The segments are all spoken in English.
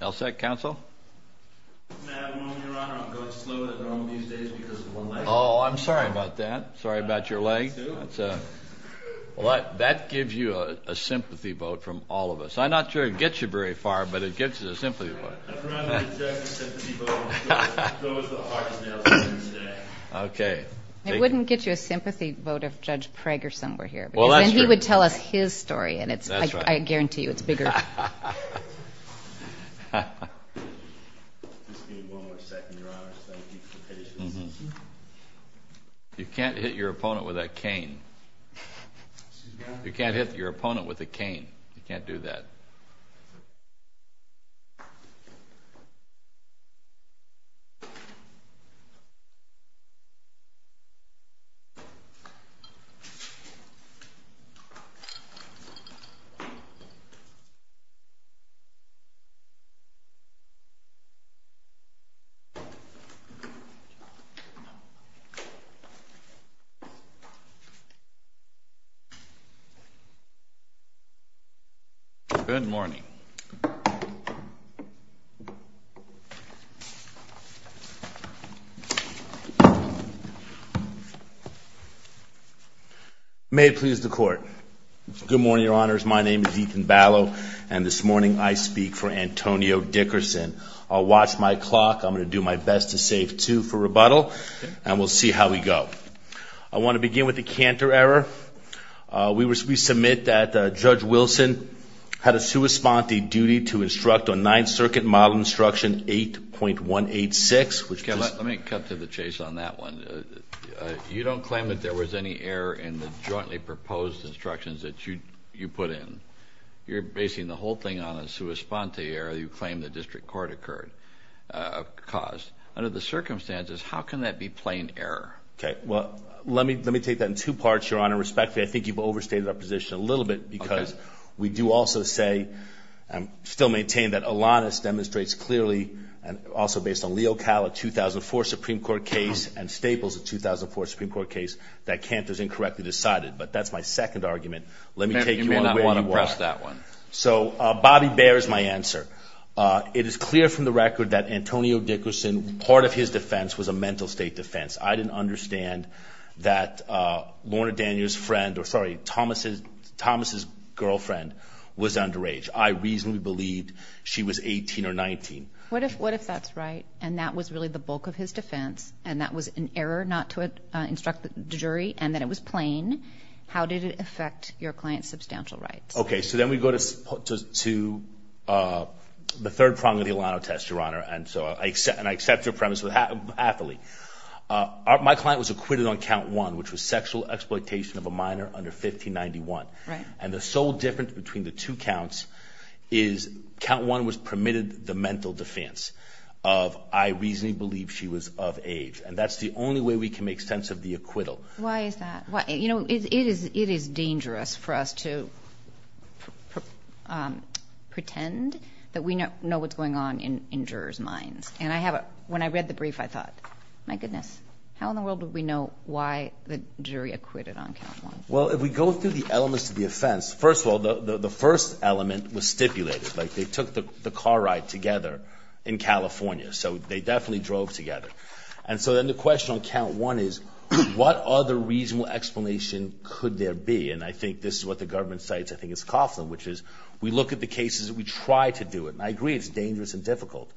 L. Sec. Counsel? I'm sorry about that. Sorry about your leg. That gives you a sympathy vote from all of us. I'm not sure it gets you very far, but it gets you a sympathy vote. Okay. It wouldn't get you a sympathy vote if Judge Preggerson were here, because then he would tell us his story, and I guarantee you it's bigger. Just give me one more second, Your Honors. Thank you for your patience. You can't hit your opponent with a cane. You can't hit your opponent with a cane. You can't do that. Good morning. May it please the Court. Good morning, Your Honors. My name is Ethan Ballo, and this morning I speak for Antonio Dickerson. I'll watch my clock. I'm going to do my best to save two for rebuttal, and we'll see how we go. I want to begin with the Cantor error. We submit that Judge Wilson had a sua sponte duty to instruct on Ninth Circuit Model Instruction 8.186. Let me cut to the chase on that one. You don't claim that there was any error in the jointly proposed instructions that you put in. You're basing the whole thing on a sua sponte error you claim the district court caused. Under the circumstances, how can that be plain error? Okay. Well, let me take that in two parts, Your Honor. Respectfully, I think you've overstated our position a little bit because we do also say and still maintain that Alanis demonstrates clearly and also based on Leo Cala, a 2004 Supreme Court case and Staples, a 2004 Supreme Court case, that Cantor's incorrectly decided. But that's my second argument. Let me take you on where you are. You may not want to press that one. So Bobby Baer is my answer. It is clear from the record that Antonio Dickerson, part of his defense was a mental state defense. I didn't understand that Lorna Daniels' friend or, sorry, Thomas' girlfriend was underage. I reasonably believed she was 18 or 19. What if that's right and that was really the bulk of his defense and that was an error not to instruct the jury and that it was plain? How did it affect your client's substantial rights? Okay, so then we go to the third prong of the Alano test, Your Honor, and I accept your premise happily. My client was acquitted on Count 1, which was sexual exploitation of a minor under 1591. And the sole difference between the two counts is Count 1 was permitted the mental defense of I reasonably believe she was of age, and that's the only way we can make sense of the acquittal. Why is that? You know, it is dangerous for us to pretend that we know what's going on in jurors' minds. And when I read the brief, I thought, my goodness, how in the world would we know why the jury acquitted on Count 1? Well, if we go through the elements of the offense, first of all, the first element was stipulated. Like they took the car ride together in California, so they definitely drove together. And so then the question on Count 1 is what other reasonable explanation could there be? And I think this is what the government cites, I think it's Coughlin, which is we look at the cases and we try to do it. And I agree it's dangerous and difficult.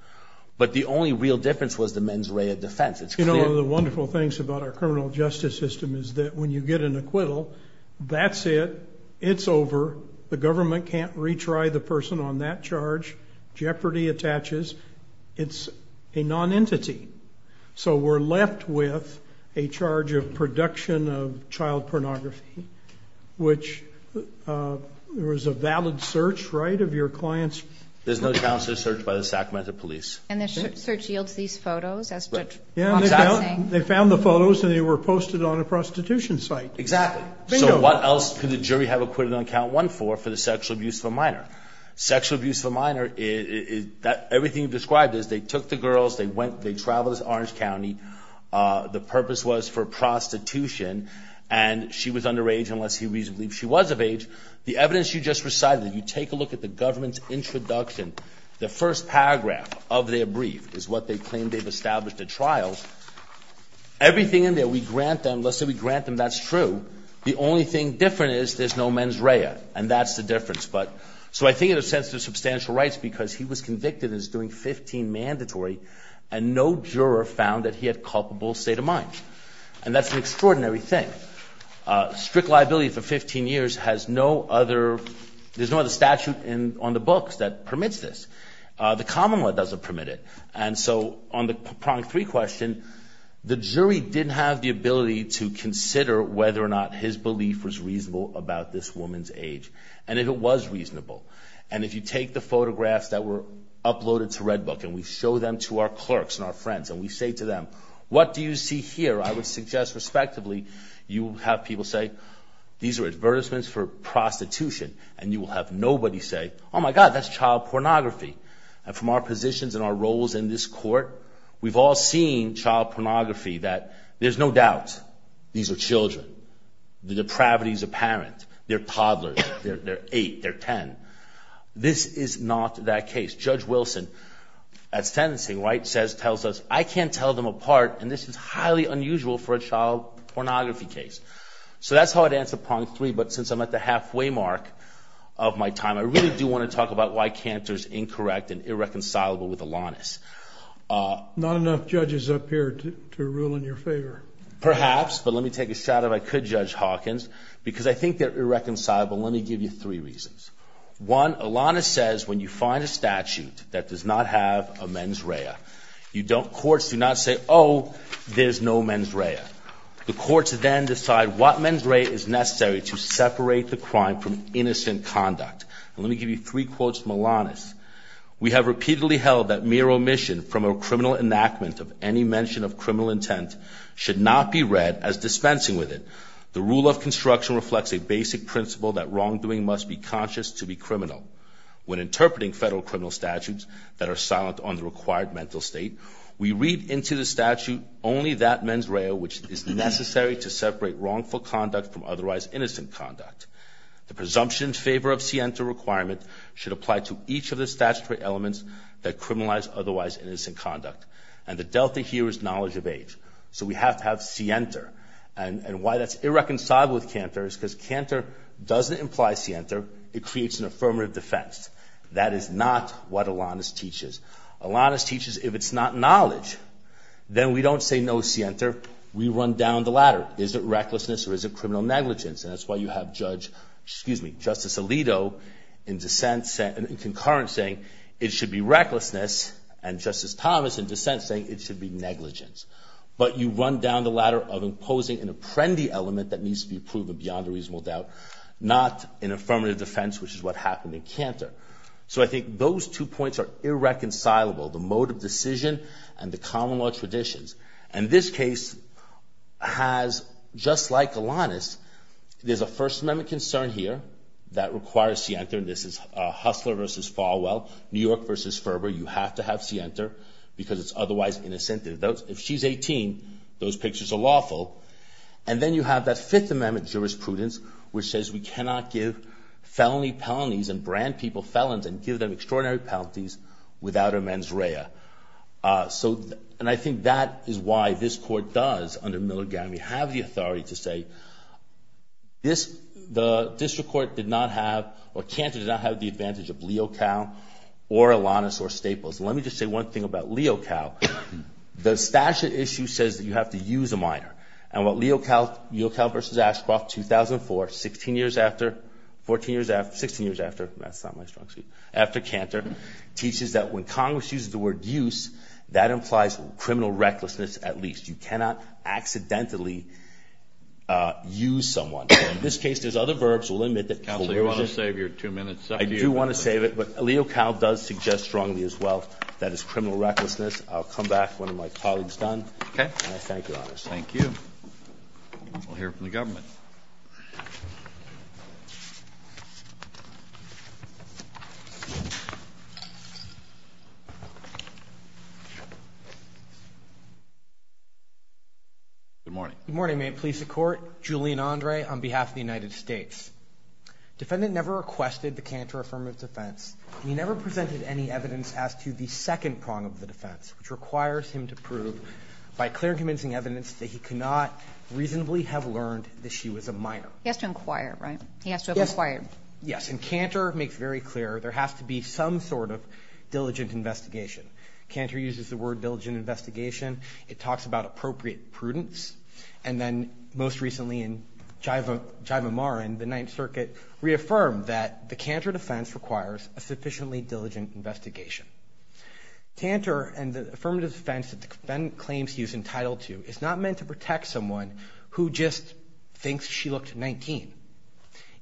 But the only real difference was the mens rea defense. You know, one of the wonderful things about our criminal justice system is that when you get an acquittal, that's it, it's over, the government can't retry the person on that charge, jeopardy attaches. It's a non-entity. So we're left with a charge of production of child pornography, which there was a valid search, right, of your clients. There's no counselor search by the Sacramento police. And the search yields these photos as to what's happening. Yeah, they found the photos and they were posted on a prostitution site. Exactly. So what else could the jury have acquitted on Count 1 for for the sexual abuse of a minor? Sexual abuse of a minor, everything you've described is they took the girls, they went, they traveled to Orange County. The purpose was for prostitution. And she was underage unless he reasonably believed she was of age. The evidence you just recited, you take a look at the government's introduction, the first paragraph of their brief is what they claim they've established at trial. Everything in there, we grant them, let's say we grant them that's true. The only thing different is there's no mens rea. And that's the difference. But so I think in a sense there's substantial rights because he was convicted as doing 15 mandatory and no juror found that he had culpable state of mind. And that's an extraordinary thing. Strict liability for 15 years has no other, there's no other statute on the books that permits this. The common law doesn't permit it. And so on the prong three question, the jury didn't have the ability to consider whether or not his belief was reasonable about this woman's age. And if it was reasonable, and if you take the photographs that were uploaded to Redbook and we show them to our clerks and our friends and we say to them, what do you see here, I would suggest respectively you have people say, these are advertisements for prostitution. And you will have nobody say, oh, my God, that's child pornography. And from our positions and our roles in this court, we've all seen child pornography, that there's no doubt these are children. The depravity is apparent. They're toddlers. They're eight. They're ten. This is not that case. Judge Wilson at sentencing, right, says, tells us, I can't tell them apart, and this is highly unusual for a child pornography case. So that's how I'd answer prong three, but since I'm at the halfway mark of my time, I really do want to talk about why Cantor's incorrect and irreconcilable with Alanis. Not enough judges up here to rule in your favor. Perhaps, but let me take a shot if I could, Judge Hawkins, because I think they're irreconcilable. Let me give you three reasons. One, Alanis says when you find a statute that does not have a mens rea, courts do not say, oh, there's no mens rea. The courts then decide what mens rea is necessary to separate the crime from innocent conduct. Let me give you three quotes from Alanis. We have repeatedly held that mere omission from a criminal enactment of any mention of criminal intent should not be read as dispensing with it. The rule of construction reflects a basic principle that wrongdoing must be conscious to be criminal. When interpreting federal criminal statutes that are silent on the required mental state, we read into the statute only that mens rea which is necessary to separate wrongful conduct from otherwise innocent conduct. The presumption in favor of scienta requirement should apply to each of the statutory elements that criminalize otherwise innocent conduct. And the delta here is knowledge of age. So we have to have scienta. And why that's irreconcilable with canter is because canter doesn't imply scienta. It creates an affirmative defense. That is not what Alanis teaches. Alanis teaches if it's not knowledge, then we don't say no scienta. We run down the ladder. Is it recklessness or is it criminal negligence? And that's why you have Judge, excuse me, Justice Alito in dissent, in concurrence saying it should be recklessness and Justice Thomas in dissent saying it should be negligence. But you run down the ladder of imposing an apprendi element that needs to be proven beyond a reasonable doubt, not an affirmative defense which is what happened in canter. So I think those two points are irreconcilable, the mode of decision and the common law traditions. And this case has, just like Alanis, there's a First Amendment concern here that requires scienta. And this is Hussler versus Falwell, New York versus Ferber. You have to have scienta because it's otherwise innocent. If she's 18, those pictures are lawful. And then you have that Fifth Amendment jurisprudence which says we cannot give felony penalties and brand people felons and give them extraordinary penalties without a mens rea. So and I think that is why this court does, under Milligami, have the authority to say this, the district court did not have or canter did not have the advantage of Leocal or Alanis or Staples. Let me just say one thing about Leocal. The statute issue says that you have to use a minor. And what Leocal versus Ashcroft 2004, 16 years after, 14 years after, 16 years after, that's not my strong suit, after canter, teaches that when Congress uses the word use, that implies criminal recklessness at least. You cannot accidentally use someone. In this case, there's other verbs. We'll admit that. Counsel, do you want to save your two minutes? I do want to save it. But Leocal does suggest strongly as well that it's criminal recklessness. I'll come back when my colleague is done. And I thank you, Your Honor. Thank you. We'll hear from the government. Good morning. Good morning. May it please the Court. Julian Andre on behalf of the United States. Defendant never requested the canter affirmative defense. He never presented any evidence as to the second prong of the defense, which requires him to prove by clear and convincing evidence that he could not reasonably have learned that she was a minor. He has to inquire, right? He has to inquire. Yes. And canter makes very clear there has to be some sort of diligent investigation. Canter uses the word diligent investigation. It talks about appropriate prudence. And then most recently in Jivamaran, the Ninth Circuit, reaffirmed that the canter defense requires a sufficiently diligent investigation. Tantor and the affirmative defense that the defendant claims he's entitled to is not meant to protect someone who just thinks she looked 19.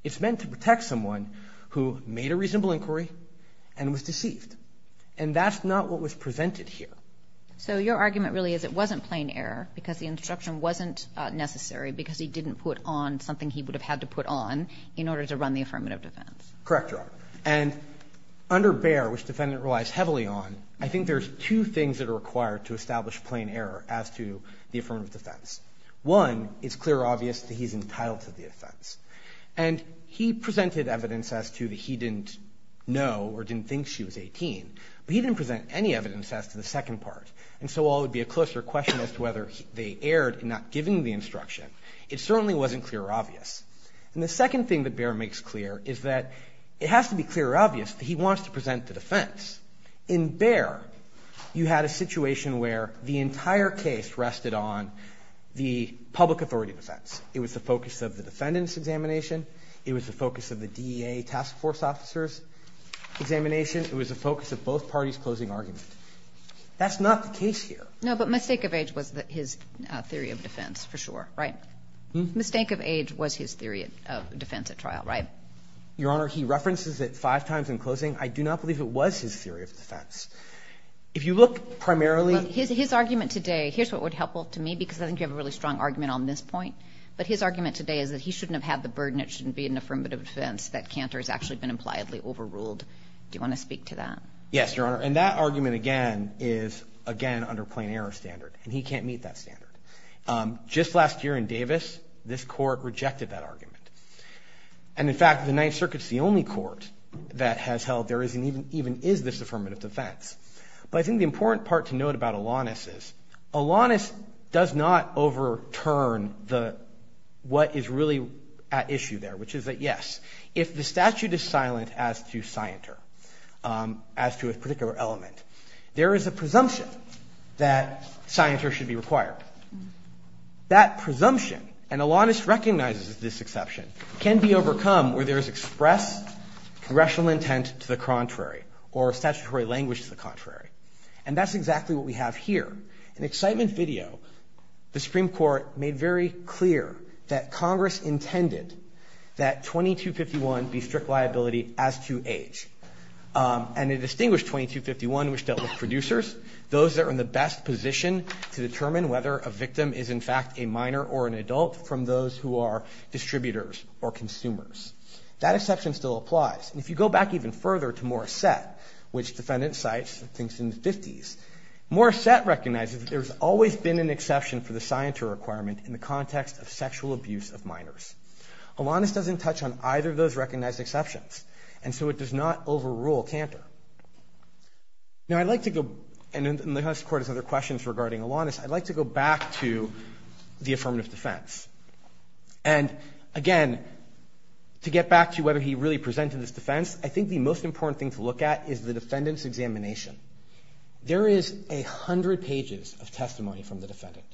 It's meant to protect someone who made a reasonable inquiry and was deceived. And that's not what was presented here. So your argument really is it wasn't plain error because the instruction wasn't necessary because he didn't put on something he would have had to put on in order to run the affirmative defense. Correct, Your Honor. And under Bayer, which the defendant relies heavily on, I think there's two things that are required to establish plain error as to the affirmative defense. One, it's clear or obvious that he's entitled to the offense. And he presented evidence as to that he didn't know or didn't think she was 18. But he didn't present any evidence as to the second part. And so while it would be a closer question as to whether they erred in not giving the instruction, it certainly wasn't clear or obvious. And the second thing that Bayer makes clear is that it has to be clear or obvious that he wants to present the defense. In Bayer, you had a situation where the entire case rested on the public authority defense. It was the focus of the defendant's examination. It was the focus of the DEA task force officer's examination. It was the focus of both parties' closing argument. That's not the case here. No, but mistake of age was his theory of defense for sure, right? Mm-hmm. Mistake of age was his theory of defense at trial, right? Your Honor, he references it five times in closing. I do not believe it was his theory of defense. If you look primarily at his argument today, here's what would help to me, because I think you have a really strong argument on this point. But his argument today is that he shouldn't have had the burden. It shouldn't be an affirmative defense that Cantor has actually been impliedly overruled. Do you want to speak to that? Yes, Your Honor. And that argument, again, is, again, under plain error standard. Just last year in Davis, this Court rejected that argument. And, in fact, the Ninth Circuit's the only court that has held there even is this affirmative defense. But I think the important part to note about Alanis is, Alanis does not overturn what is really at issue there, which is that, yes, if the statute is silent as to Scienter, as to a particular element, there is a presumption that Scienter should be required. That presumption, and Alanis recognizes this exception, can be overcome where there is expressed congressional intent to the contrary or statutory language to the contrary. And that's exactly what we have here. In excitement video, the Supreme Court made very clear that Congress intended that 2251 be strict liability as to age. And it distinguished 2251, which dealt with producers, those that were in the best position to determine whether a victim is, in fact, a minor or an adult from those who are distributors or consumers. That exception still applies. And if you go back even further to Morissette, which defendant cites, I think is in the 50s, Morissette recognizes that there's always been an exception for the Scienter requirement in the context of sexual abuse of minors. Alanis doesn't touch on either of those recognized exceptions. And so it does not overrule Cantor. Now, I'd like to go, and the U.S. Court has other questions regarding Alanis, I'd like to go back to the affirmative defense. And, again, to get back to whether he really presented his defense, I think the most important thing to look at is the defendant's examination. There is a hundred pages of testimony from the defendant,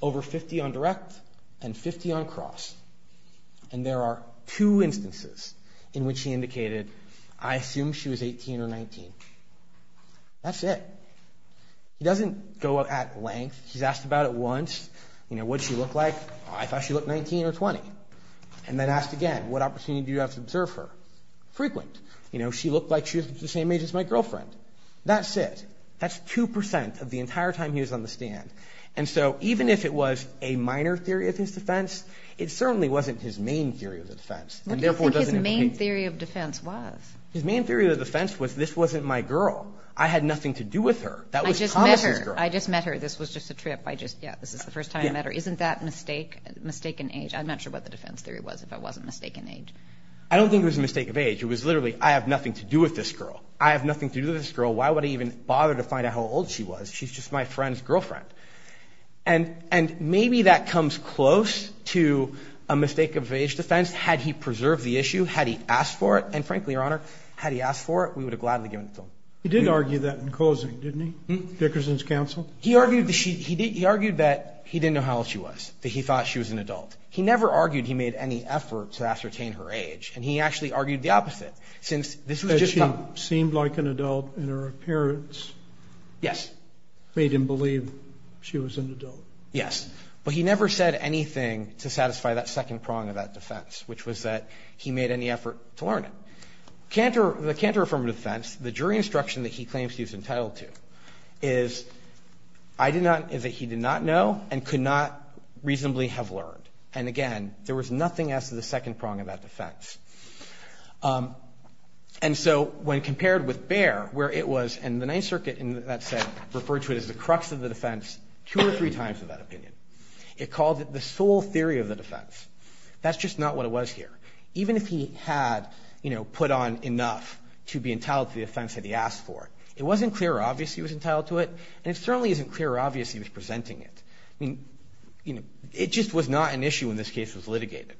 over 50 on direct and 50 on cross. And there are two instances in which he indicated, I assume she was 18 or 19. That's it. He doesn't go at length. He's asked about it once. You know, what did she look like? I thought she looked 19 or 20. And then asked again, what opportunity do you have to observe her? Frequent. You know, she looked like she was the same age as my girlfriend. That's it. That's 2% of the entire time he was on the stand. And so, even if it was a minor theory of his defense, it certainly wasn't his main theory of defense. And, therefore, it doesn't indicate. What do you think his main theory of defense was? His main theory of defense was, this wasn't my girl. I had nothing to do with her. That was Thomas's girl. I just met her. This was just a trip. Yeah, this is the first time I met her. Isn't that mistaken age? I'm not sure what the defense theory was, if it wasn't mistaken age. I don't think it was a mistake of age. It was literally, I have nothing to do with this girl. I have nothing to do with this girl. Why would I even bother to find out how old she was? She's just my friend's girlfriend. And maybe that comes close to a mistake of age defense. Had he preserved the issue, had he asked for it, and frankly, Your Honor, had he asked for it, we would have gladly given it to him. He did argue that in closing, didn't he? Dickerson's counsel? He argued that he didn't know how old she was, that he thought she was an adult. He never argued he made any effort to ascertain her age. And he actually argued the opposite. That she seemed like an adult in her appearance? Yes. Made him believe she was an adult? Yes. But he never said anything to satisfy that second prong of that defense, which was that he made any effort to learn it. The counter-affirmative defense, the jury instruction that he claims he was entitled to, is I did not, is that he did not know and could not reasonably have learned. And, again, there was nothing as to the second prong of that defense. And so when compared with Baer, where it was, and the Ninth Circuit, in that sense, referred to it as the crux of the defense two or three times in that opinion. It called it the sole theory of the defense. That's just not what it was here. Even if he had, you know, put on enough to be entitled to the defense that he asked for, it wasn't clear or obvious he was entitled to it, and it certainly isn't clear or obvious he was presenting it. I mean, you know, it just was not an issue in this case that was litigated.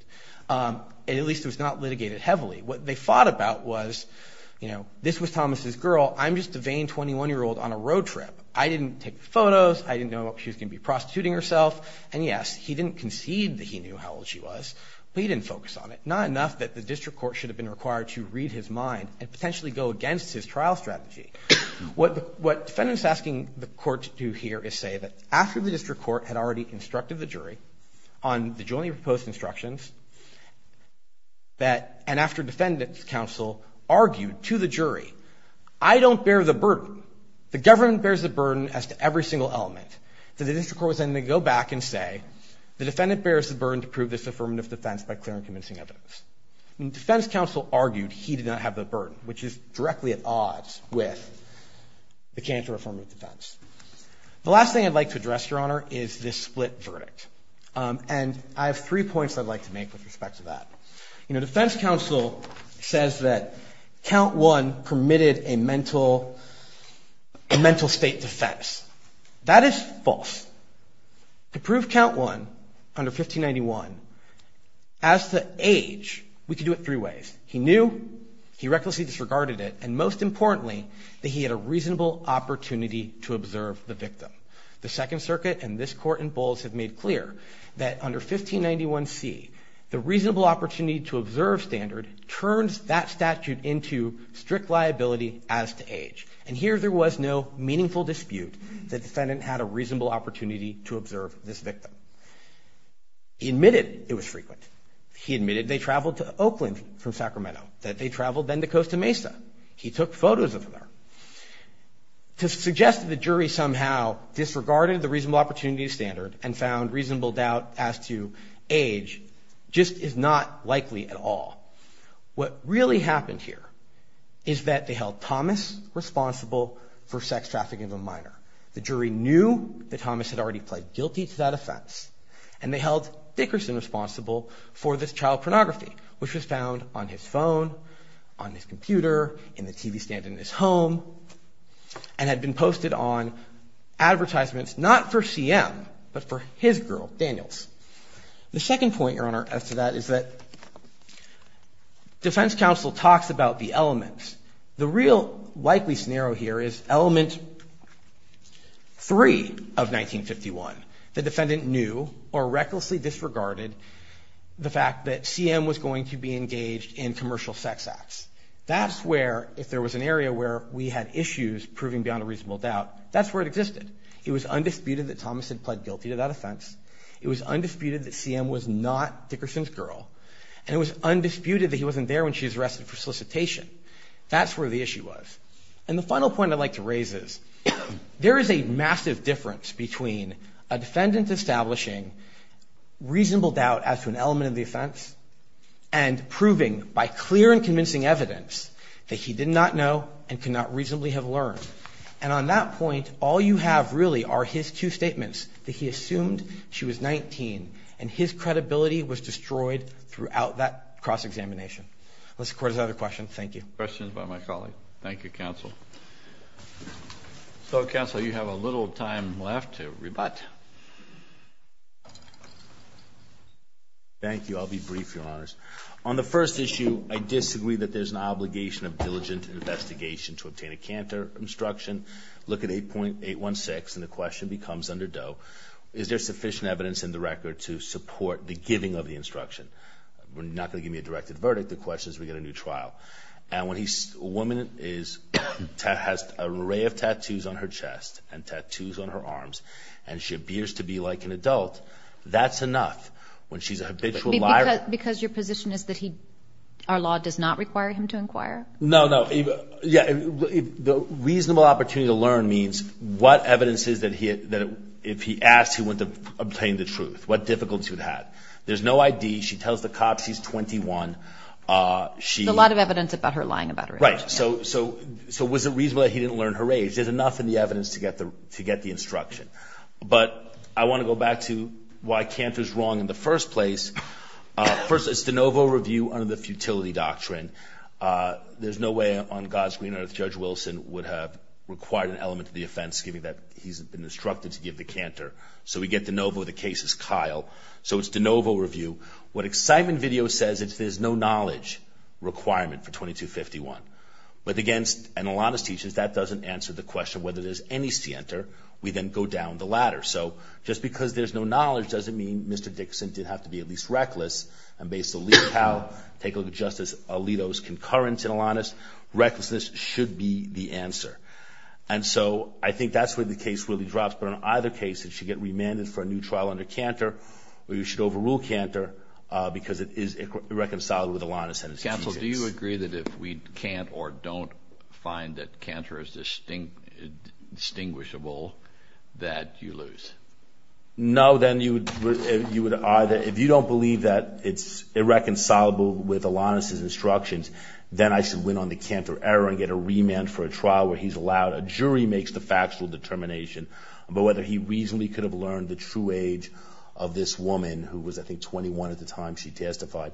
At least it was not litigated heavily. What they fought about was, you know, this was Thomas's girl. I'm just a vain 21-year-old on a road trip. I didn't take the photos. I didn't know she was going to be prostituting herself. And, yes, he didn't concede that he knew how old she was, but he didn't focus on it. Not enough that the district court should have been required to read his mind and potentially go against his trial strategy. What the defendant is asking the court to do here is say that after the district court had already instructed the jury on the jointly proposed instructions, that, and after defendant's counsel argued to the jury, I don't bear the burden. The government bears the burden as to every single element. So the district court was then going to go back and say, the defendant bears the burden to prove this affirmative defense by clear and convincing evidence. And defense counsel argued he did not have the burden, which is directly at odds with the counter-affirmative defense. The last thing I'd like to address, Your Honor, is this split verdict. And I have three points I'd like to make with respect to that. You know, defense counsel says that Count One permitted a mental state defense. That is false. To prove Count One under 1591 as to age, we could do it three ways. He knew, he recklessly disregarded it, and, most importantly, that he had a reasonable opportunity to observe the victim. The Second Circuit and this court in Bowles have made clear that under 1591C, the reasonable opportunity to observe standard turns that statute into strict liability as to age. And here there was no meaningful dispute that defendant had a reasonable opportunity to observe this victim. He admitted it was frequent. He admitted they traveled to Oakland from Sacramento, that they traveled then to Costa Mesa. He took photos of them. To suggest that the jury somehow disregarded the reasonable opportunity to standard and found reasonable doubt as to age just is not likely at all. What really happened here is that they held Thomas responsible for sex trafficking of a minor. The jury knew that Thomas had already pled guilty to that offense, and they held Dickerson responsible for this child pornography, which was found on his phone, on his computer, in the TV stand in his home, and had been posted on advertisements not for CM, but for his girl, Daniels. The second point, Your Honor, as to that is that defense counsel talks about the elements. The real likely scenario here is Element Three of 1951. The defendant knew or recklessly disregarded the fact that CM was going to be engaged in commercial sex acts. That's where, if there was an area where we had issues proving beyond a reasonable doubt, that's where it existed. It was undisputed that Thomas had pled guilty to that offense. It was undisputed that CM was not Dickerson's girl. And it was undisputed that he wasn't there when she was arrested for solicitation. That's where the issue was. And the final point I'd like to raise is there is a massive difference between a defendant establishing reasonable doubt as to an element of the offense and proving by clear and convincing evidence that he did not know and could not reasonably have learned. And on that point, all you have really are his two statements, that he assumed she was 19, and his credibility was destroyed throughout that cross-examination. Unless the Court has other questions. Thank you. Any questions by my colleague? Thank you, Counsel. Counsel, you have a little time left to rebut. Thank you. I'll be brief, Your Honors. On the first issue, I disagree that there's an obligation of diligent investigation to obtain a canter instruction. Look at 8.816, and the question becomes under Doe, is there sufficient evidence in the record to support the giving of the instruction? We're not going to give you a directed verdict. The question is we get a new trial. And when a woman has an array of tattoos on her chest and tattoos on her arms and she appears to be like an adult, that's enough. When she's a habitual liar. Because your position is that our law does not require him to inquire? No, no. The reasonable opportunity to learn means what evidence is that if he asked, he went to obtain the truth. What difficulty would he have? There's no ID. She tells the cops she's 21. There's a lot of evidence about her lying about her age. Right. So was it reasonable that he didn't learn her age? There's enough in the evidence to get the instruction. But I want to go back to why canter is wrong in the first place. First, it's de novo review under the futility doctrine. There's no way on God's green earth Judge Wilson would have required an element to the offense, given that he's been instructed to give the canter. So we get de novo. The case is Kyle. So it's de novo review. What excitement video says is there's no knowledge requirement for 2251. But against an Alanis teacher, that doesn't answer the question whether there's any scienter. We then go down the ladder. So just because there's no knowledge doesn't mean Mr. Dixon didn't have to be at least reckless. And based on Lee and Kyle, take a look at Justice Alito's concurrence in Alanis. Recklessness should be the answer. And so I think that's where the case really drops. But in either case, it should get remanded for a new trial under canter, or you should overrule canter because it is irreconcilable with Alanis. Counsel, do you agree that if we can't or don't find that canter is distinguishable that you lose? No. Then you would either, if you don't believe that it's irreconcilable with Alanis's instructions, then I should win on the canter error and get a remand for a trial where he's But whether he reasonably could have learned the true age of this woman, who was, I think, 21 at the time she testified,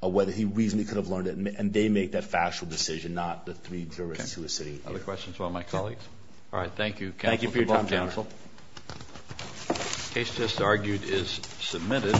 whether he reasonably could have learned it. And they make that factual decision, not the three jurists who are sitting here. Other questions from my colleagues? All right. Thank you, counsel. Thank you for your time, counsel. The case just argued is submitted.